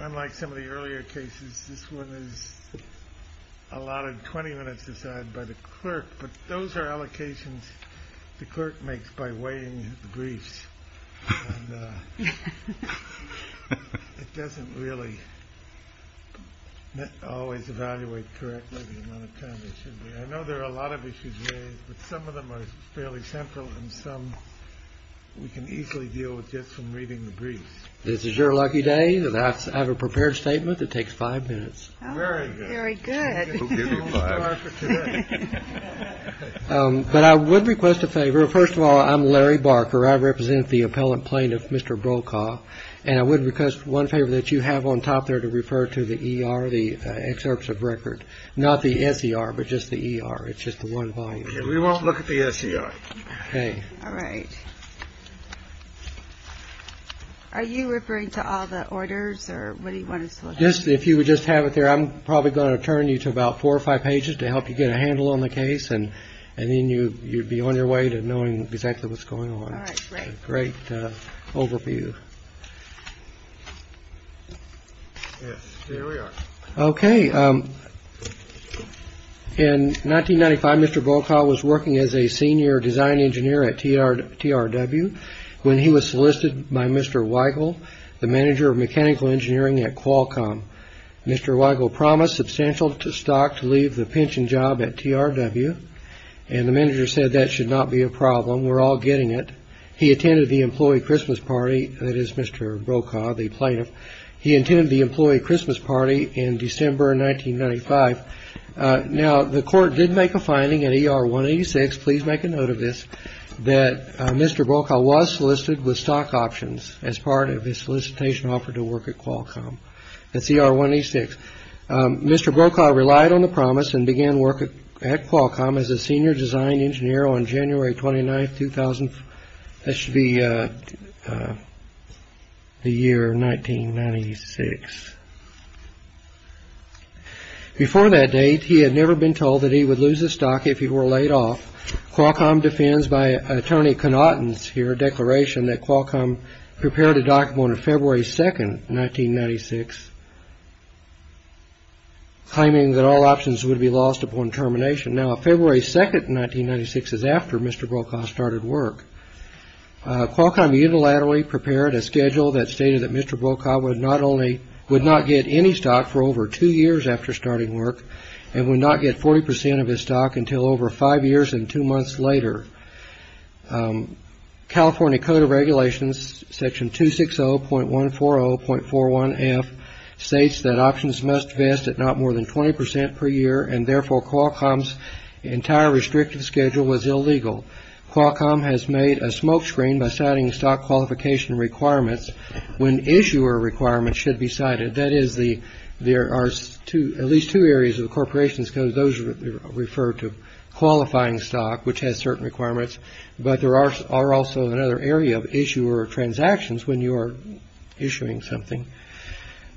Unlike some of the earlier cases, this one is allotted 20 minutes aside by the clerk, but those are allocations the clerk makes by weighing the briefs, and it doesn't really always evaluate correctly the amount of time they should be. I know there are a lot of issues raised, but some of them are fairly simple, and some we can easily deal with just from reading the briefs. This is your lucky day. I have a prepared statement that takes five minutes. Very good. Very good. But I would request a favor. First of all, I'm Larry Barker. I represent the appellant plaintiff, Mr. Brokaw, and I would request one favor that you have on top there to refer to the ER, the excerpts of record. Not the SER, but just the ER. We won't look at the SER. Okay. All right. Are you referring to all the orders, or what do you want us to look at? Yes, if you would just have it there. I'm probably going to turn you to about four or five pages to help you get a handle on the case, and then you'd be on your way to knowing exactly what's going on. All right, great. Great overview. Yes, there we are. Okay. In 1995, Mr. Brokaw was working as a senior design engineer at TRW when he was solicited by Mr. Weigel, the manager of mechanical engineering at Qualcomm. Mr. Weigel promised substantial stock to leave the pension job at TRW, and the manager said that should not be a problem. We're all getting it. He attended the employee Christmas party. That is Mr. Brokaw, the plaintiff. He attended the employee Christmas party in December 1995. Now, the court did make a finding in ER 186, please make a note of this, that Mr. Brokaw was solicited with stock options as part of his solicitation offer to work at Qualcomm. That's ER 186. Mr. Brokaw relied on the promise and began work at Qualcomm as a senior design engineer on January 29, 2000. That should be the year 1996. Before that date, he had never been told that he would lose his stock if he were laid off. Qualcomm defends by an attorney connotance here, a declaration that Qualcomm prepared a document on February 2, 1996, claiming that all options would be lost upon termination. Now, February 2, 1996 is after Mr. Brokaw started work. Qualcomm unilaterally prepared a schedule that stated that Mr. Brokaw would not get any stock for over two years after starting work and would not get 40 percent of his stock until over five years and two months later. California Code of Regulations, Section 260.140.41F, states that options must vest at not more than 20 percent per year, and therefore Qualcomm's entire restrictive schedule was illegal. Qualcomm has made a smokescreen by citing stock qualification requirements when issuer requirements should be cited. That is, there are at least two areas of the corporation's code. Those refer to qualifying stock, which has certain requirements, but there are also another area of issuer transactions when you are issuing something.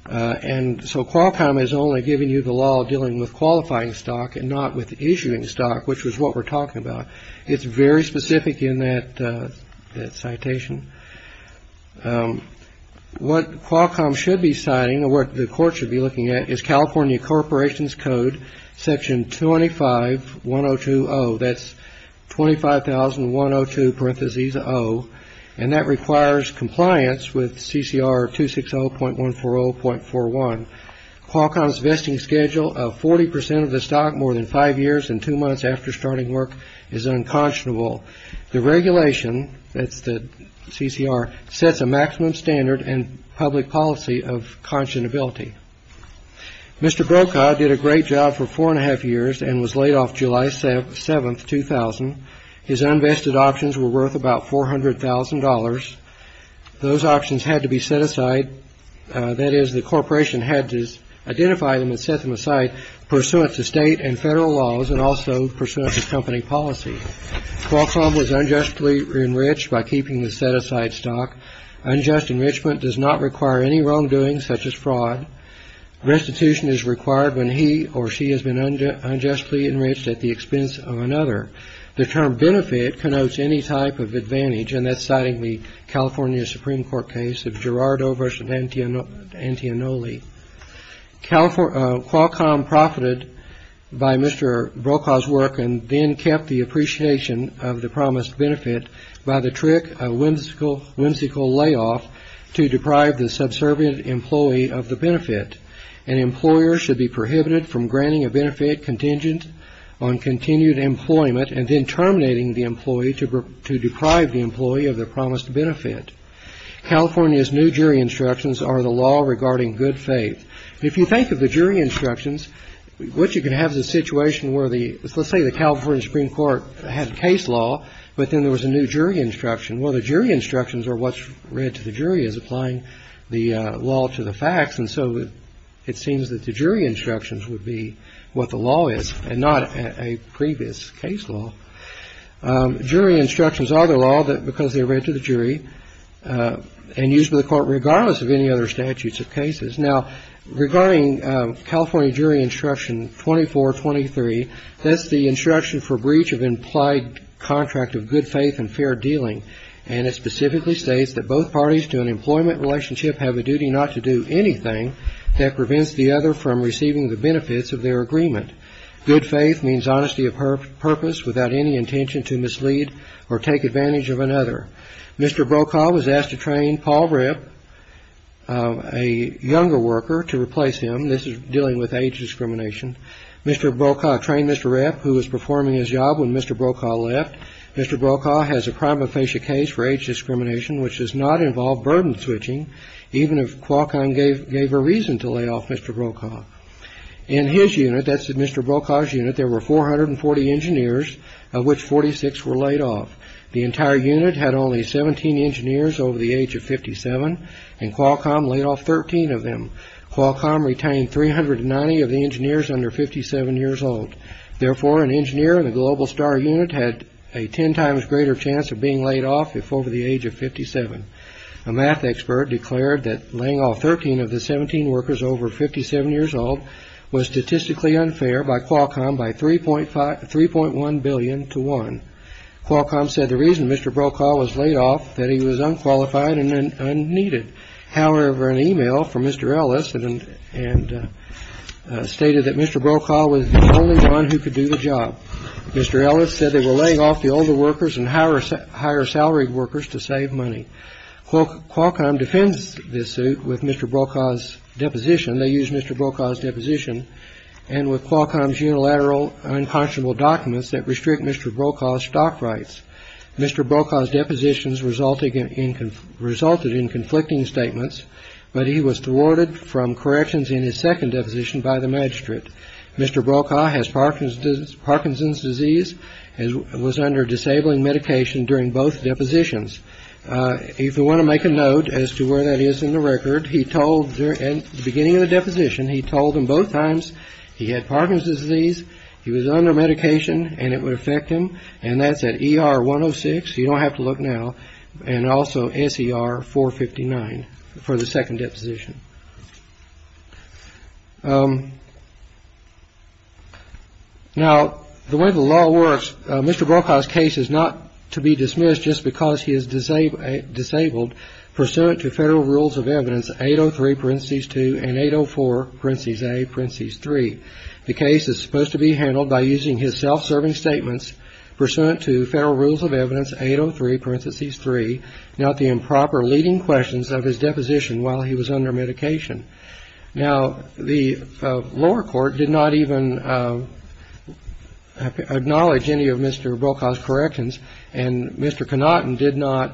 And so Qualcomm has only given you the law dealing with qualifying stock and not with issuing stock, which is what we're talking about. It's very specific in that citation. What Qualcomm should be citing or what the court should be looking at is California Corporation's Code, Section 25.102.0. And that requires compliance with CCR 260.140.41. Qualcomm's vesting schedule of 40 percent of the stock more than five years and two months after starting work is unconscionable. The regulation, that's the CCR, sets a maximum standard and public policy of conscionability. Mr. Brokaw did a great job for four and a half years and was laid off July 7, 2000. His unvested options were worth about $400,000. Those options had to be set aside. That is, the corporation had to identify them and set them aside pursuant to state and federal laws and also pursuant to company policy. Qualcomm was unjustly enriched by keeping the set-aside stock. Unjust enrichment does not require any wrongdoing, such as fraud. Restitution is required when he or she has been unjustly enriched at the expense of another. The term benefit connotes any type of advantage, and that's citing the California Supreme Court case of Gerardo v. Antionoli. Qualcomm profited by Mr. Brokaw's work and then kept the appreciation of the promised benefit by the trick of whimsical layoff to deprive the subservient employee of the benefit. An employer should be prohibited from granting a benefit contingent on continued employment and then terminating the employee to deprive the employee of the promised benefit. California's new jury instructions are the law regarding good faith. If you think of the jury instructions, what you can have is a situation where the let's say the California Supreme Court had case law, but then there was a new jury instruction. Well, the jury instructions are what's read to the jury as applying the law to the facts. And so it seems that the jury instructions would be what the law is and not a previous case law. Jury instructions are the law because they are read to the jury and used by the court regardless of any other statutes of cases. Now, regarding California jury instruction 2423, that's the instruction for breach of implied contract of good faith and fair dealing. And it specifically states that both parties to an employment relationship have a duty not to do anything that prevents the other from receiving the benefits of their agreement. Good faith means honesty of purpose without any intention to mislead or take advantage of another. Mr. Brokaw was asked to train Paul Ripp, a younger worker, to replace him. This is dealing with age discrimination. Mr. Brokaw trained Mr. Ripp, who was performing his job when Mr. Brokaw left. Mr. Brokaw has a prima facie case for age discrimination, which does not involve burden switching, even if Qualcomm gave a reason to lay off Mr. Brokaw. In his unit, that's Mr. Brokaw's unit, there were 440 engineers, of which 46 were laid off. The entire unit had only 17 engineers over the age of 57, and Qualcomm laid off 13 of them. Qualcomm retained 390 of the engineers under 57 years old. Therefore, an engineer in the Global Star unit had a 10 times greater chance of being laid off if over the age of 57. A math expert declared that laying off 13 of the 17 workers over 57 years old was statistically unfair by Qualcomm by 3.1 billion to 1. Qualcomm said the reason Mr. Brokaw was laid off was that he was unqualified and unneeded. However, an email from Mr. Ellis stated that Mr. Brokaw was the only one who could do the job. Mr. Ellis said they were laying off the older workers and higher salaried workers to save money. Qualcomm defends this suit with Mr. Brokaw's deposition. They used Mr. Brokaw's deposition and with Qualcomm's unilateral unconscionable documents that restrict Mr. Brokaw's stock rights. Mr. Brokaw's depositions resulted in conflicting statements, but he was thwarted from corrections in his second deposition by the magistrate. Mr. Brokaw has Parkinson's disease and was under disabling medication during both depositions. If you want to make a note as to where that is in the record, he told, at the beginning of the deposition, he told them both times he had Parkinson's disease, he was under medication and it would affect him. And that's at E.R. 106. You don't have to look now. And also S.E.R. 459 for the second deposition. Now, the way the law works, Mr. Brokaw's case is not to be dismissed just because he is disabled. Disabled pursuant to federal rules of evidence. The case is supposed to be handled by using his self-serving statements pursuant to federal rules of evidence. 803 parentheses three. Not the improper leading questions of his deposition while he was under medication. Now, the lower court did not even acknowledge any of Mr. Brokaw's corrections. And Mr. Connaughton did not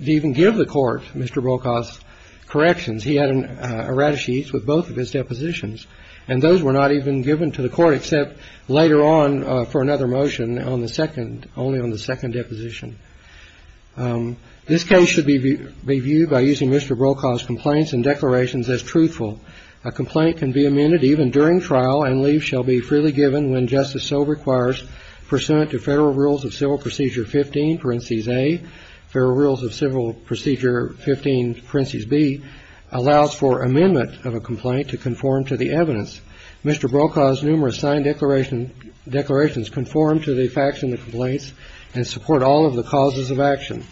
even give the court Mr. Brokaw's corrections. He had a red sheet with both of his depositions. And those were not even given to the court except later on for another motion on the second, only on the second deposition. This case should be reviewed by using Mr. Brokaw's complaints and declarations as truthful. A complaint can be amended even during trial and leave shall be freely given when justice so requires. Pursuant to federal rules of civil procedure 15 parentheses A. Federal rules of civil procedure 15 parentheses B. Allows for amendment of a complaint to conform to the evidence. Mr. Brokaw's numerous signed declaration declarations conform to the facts in the complaints and support all of the causes of action.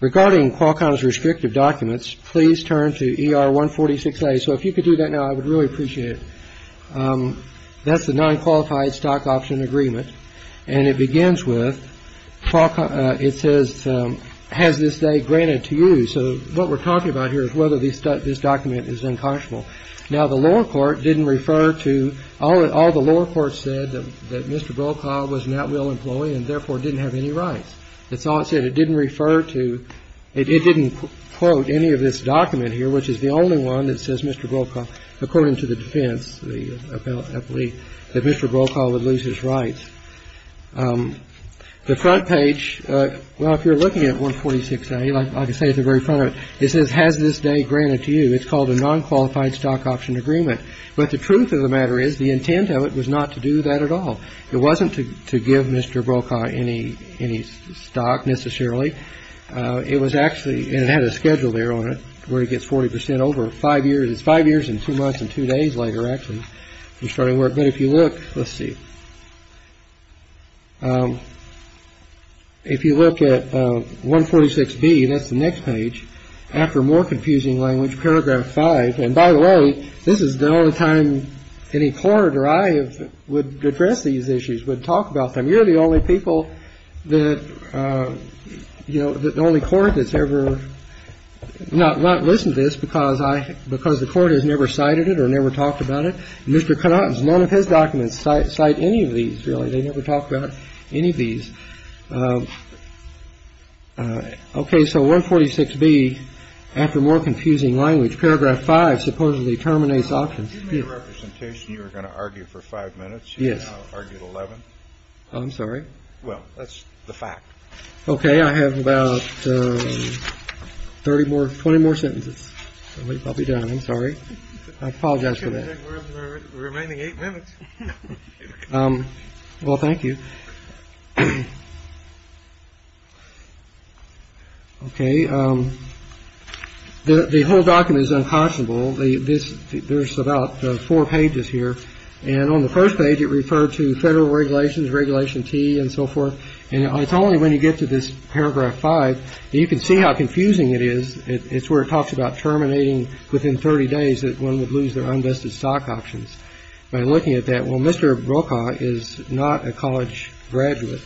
Regarding Qualcomm's restrictive documents, please turn to ER 146A. So if you could do that now, I would really appreciate it. That's the non-qualified stock option agreement. And it begins with it says has this day granted to you. So what we're talking about here is whether this document is unconscionable. Now, the lower court didn't refer to all the lower court said that Mr. Brokaw was an at will employee and therefore didn't have any rights. That's all it said. It didn't refer to, it didn't quote any of this document here, which is the only one that says Mr. Brokaw, according to the defense, I believe that Mr. Brokaw would lose his rights. The front page, well, if you're looking at 146A, like I say at the very front of it, it says has this day granted to you. It's called a non-qualified stock option agreement. But the truth of the matter is the intent of it was not to do that at all. It wasn't to give Mr. Brokaw any any stock necessarily. It was actually it had a schedule there on it where he gets 40 percent over five years. Five years and two months and two days later, actually, you're starting work. But if you look, let's see. If you look at 146B, that's the next page. After more confusing language, paragraph five. And by the way, this is the only time any court or I would address these issues, would talk about them. You're the only people that, you know, the only court that's ever not not listened to this because I because the court has never cited it or never talked about it. Mr. Connaughton's none of his documents cite cite any of these really. They never talked about any of these. OK. So 146B, after more confusing language, paragraph five supposedly terminates options representation. You were going to argue for five minutes. Yes. I argued 11. I'm sorry. Well, that's the fact. OK. I have about 30 more, 20 more sentences. I'll be done. I'm sorry. I apologize for the remaining eight minutes. Well, thank you. OK. The whole document is unconscionable. This there's about four pages here. And on the first page, it referred to federal regulations, regulation T and so forth. It's only when you get to this paragraph five. You can see how confusing it is. It's where it talks about terminating within 30 days that one would lose their undusted stock options. By looking at that, well, Mr. Brokaw is not a college graduate.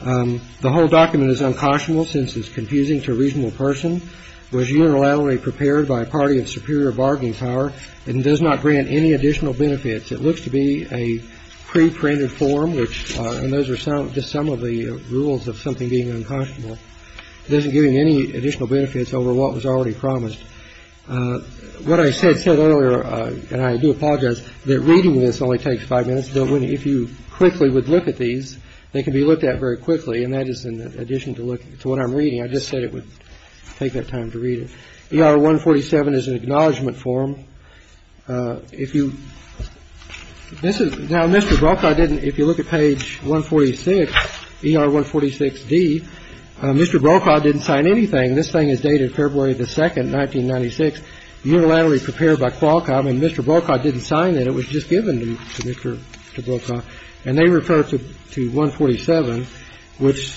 The whole document is unconscionable since it's confusing to a reasonable person. Was unilaterally prepared by a party of superior bargaining power and does not grant any additional benefits. It looks to be a pre-printed form, which those are some just some of the rules of something being unconscionable. It doesn't give you any additional benefits over what was already promised. What I said said earlier, and I do apologize that reading this only takes five minutes. But if you quickly would look at these, they can be looked at very quickly. And that is in addition to look to what I'm reading. I just said it would take that time to read it. One forty seven is an acknowledgment form. If you this is now Mr. Brokaw. I didn't. If you look at page one forty six. The Mr. Brokaw didn't sign anything. This thing is dated February the second. Nineteen ninety six unilaterally prepared by Qualcomm. And Mr. Brokaw didn't sign that it was just given to Mr. Brokaw. And they referred to one forty seven, which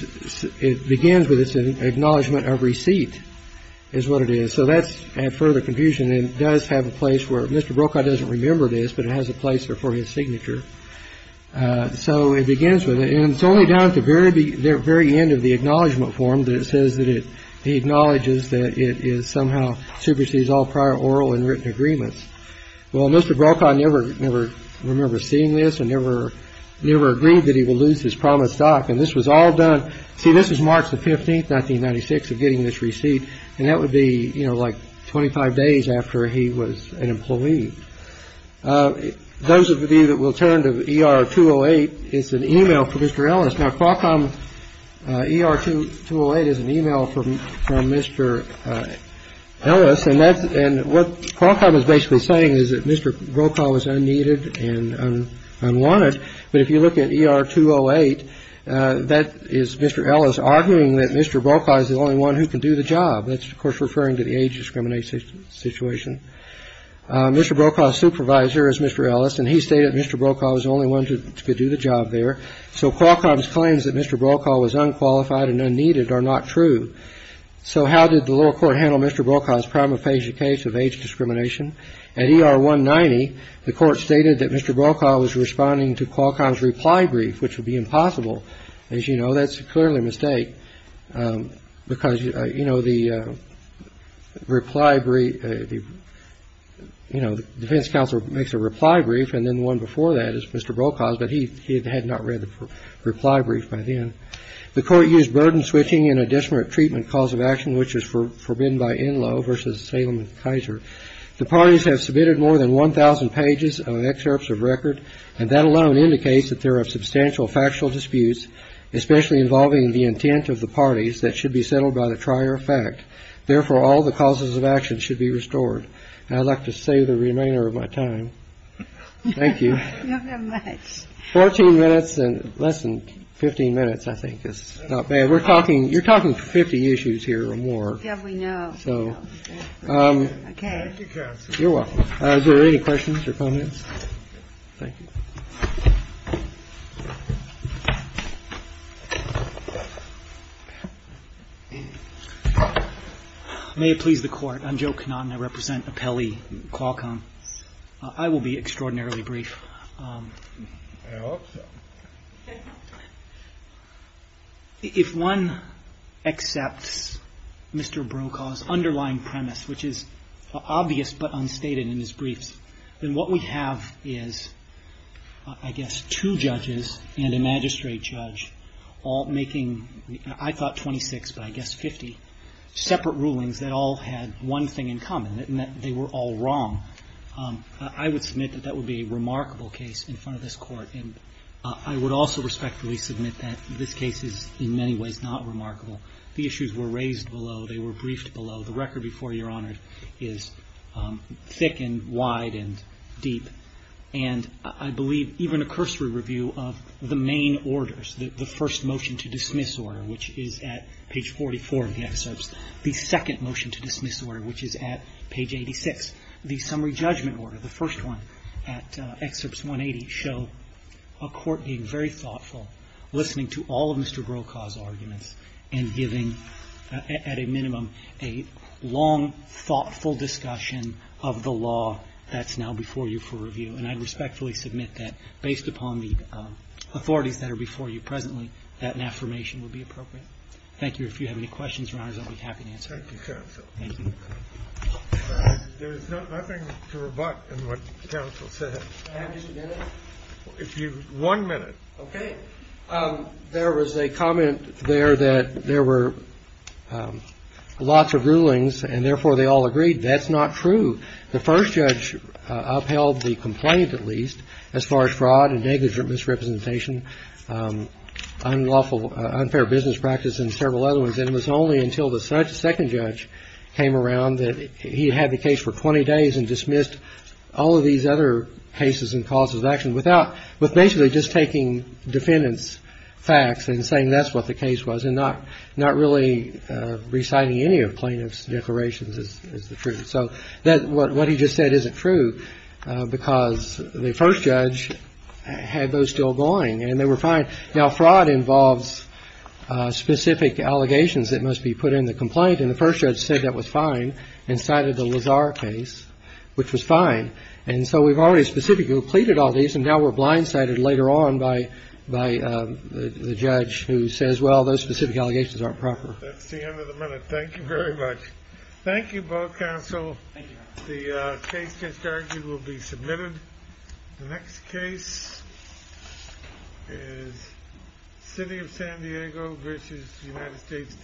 begins with its acknowledgement of receipt is what it is. So that's a further confusion. It does have a place where Mr. Brokaw doesn't remember this, but it has a place for his signature. So it begins with it. And it's only down at the very, very end of the acknowledgement form that it says that it acknowledges that it is somehow supersedes all prior oral and written agreements. Well, Mr. Brokaw never, never remember seeing this and never, never agreed that he will lose his promised stock. And this was all done. See, this is March the 15th. Nineteen ninety six of getting this receipt. And that would be like twenty five days after he was an employee. Those of you that will turn to E.R. 208 is an email for Mr. Ellis. Now, Qualcomm E.R. 208 is an email from Mr. Ellis. And that's what Qualcomm is basically saying is that Mr. Brokaw is unneeded and unwanted. But if you look at E.R. 208, that is Mr. Ellis arguing that Mr. Brokaw is the only one who can do the job. That's, of course, referring to the age discrimination situation. Mr. Brokaw's supervisor is Mr. Ellis, and he stated Mr. Brokaw was the only one to do the job there. So Qualcomm's claims that Mr. Brokaw was unqualified and unneeded are not true. So how did the lower court handle Mr. Brokaw's prima facie case of age discrimination? At E.R. 190, the court stated that Mr. Brokaw was responding to Qualcomm's reply brief, which would be impossible. As you know, that's clearly a mistake, because, you know, the reply brief, you know, the defense counsel makes a reply brief, and then the one before that is Mr. Brokaw's. But he had not read the reply brief by then. The court used burden switching in a disparate treatment cause of action, which was forbidden by Enloe versus Salem and Kaiser. The parties have submitted more than 1,000 pages of excerpts of record, and that alone indicates that there are substantial factual disputes, especially involving the intent of the parties that should be settled by the trier of fact. Therefore, all the causes of action should be restored. And I'd like to save the remainder of my time. Thank you. 14 minutes and less than 15 minutes, I think, is not bad. We're talking you're talking 50 issues here or more. So you're welcome. Are there any questions or comments? Thank you. May it please the Court. I'm Joe Knott, and I represent Appelli Qualcomm. I will be extraordinarily brief. If one accepts Mr. Brokaw's underlying premise, which is obvious but unstated in his briefs, then what we have is, I guess, two judges and a magistrate judge all making, I thought, 26, but I guess 50 separate rulings that all had one thing in common, that they were all wrong. I would submit that that would be a remarkable case in front of this Court. And I would also respectfully submit that this case is in many ways not remarkable. The issues were raised below. They were briefed below. The record before Your Honor is thick and wide and deep. And I believe even a cursory review of the main orders, the first motion to dismiss order, which is at page 44 of the excerpts, the second motion to dismiss order, which is at page 86, the summary judgment order, the first one at excerpts 180, show a court being very thoughtful, listening to all of Mr. Brokaw's arguments, and giving, at a minimum, a long, thoughtful discussion of the law that's now before you for review. And I'd respectfully submit that, based upon the authorities that are before you presently, that an affirmation would be appropriate. Thank you. If you have any questions, Your Honors, I'll be happy to answer them. Thank you, counsel. Thank you. There is nothing to rebut in what counsel said. May I have just a minute? If you one minute. Okay. There was a comment there that there were lots of rulings, and therefore they all agreed. That's not true. The first judge upheld the complaint, at least, as far as fraud and negligent misrepresentation, unlawful unfair business practice, and several other ones. And it was only until the second judge came around that he had the case for 20 days and dismissed all of these other cases and causes of action without, with basically just taking defendants' facts and saying that's what the case was, and not really reciting any of plaintiff's declarations as the truth. So what he just said isn't true, because the first judge had those still going, and they were fine. Now, fraud involves specific allegations that must be put in the complaint, and the first judge said that was fine and cited the Lazar case, which was fine. And so we've already specifically pleaded all these, and now we're blindsided later on by the judge who says, well, those specific allegations aren't proper. That's the end of the minute. Thank you very much. Thank you both, counsel. The case just argued will be submitted. The next case is City of San Diego v. United States District Court.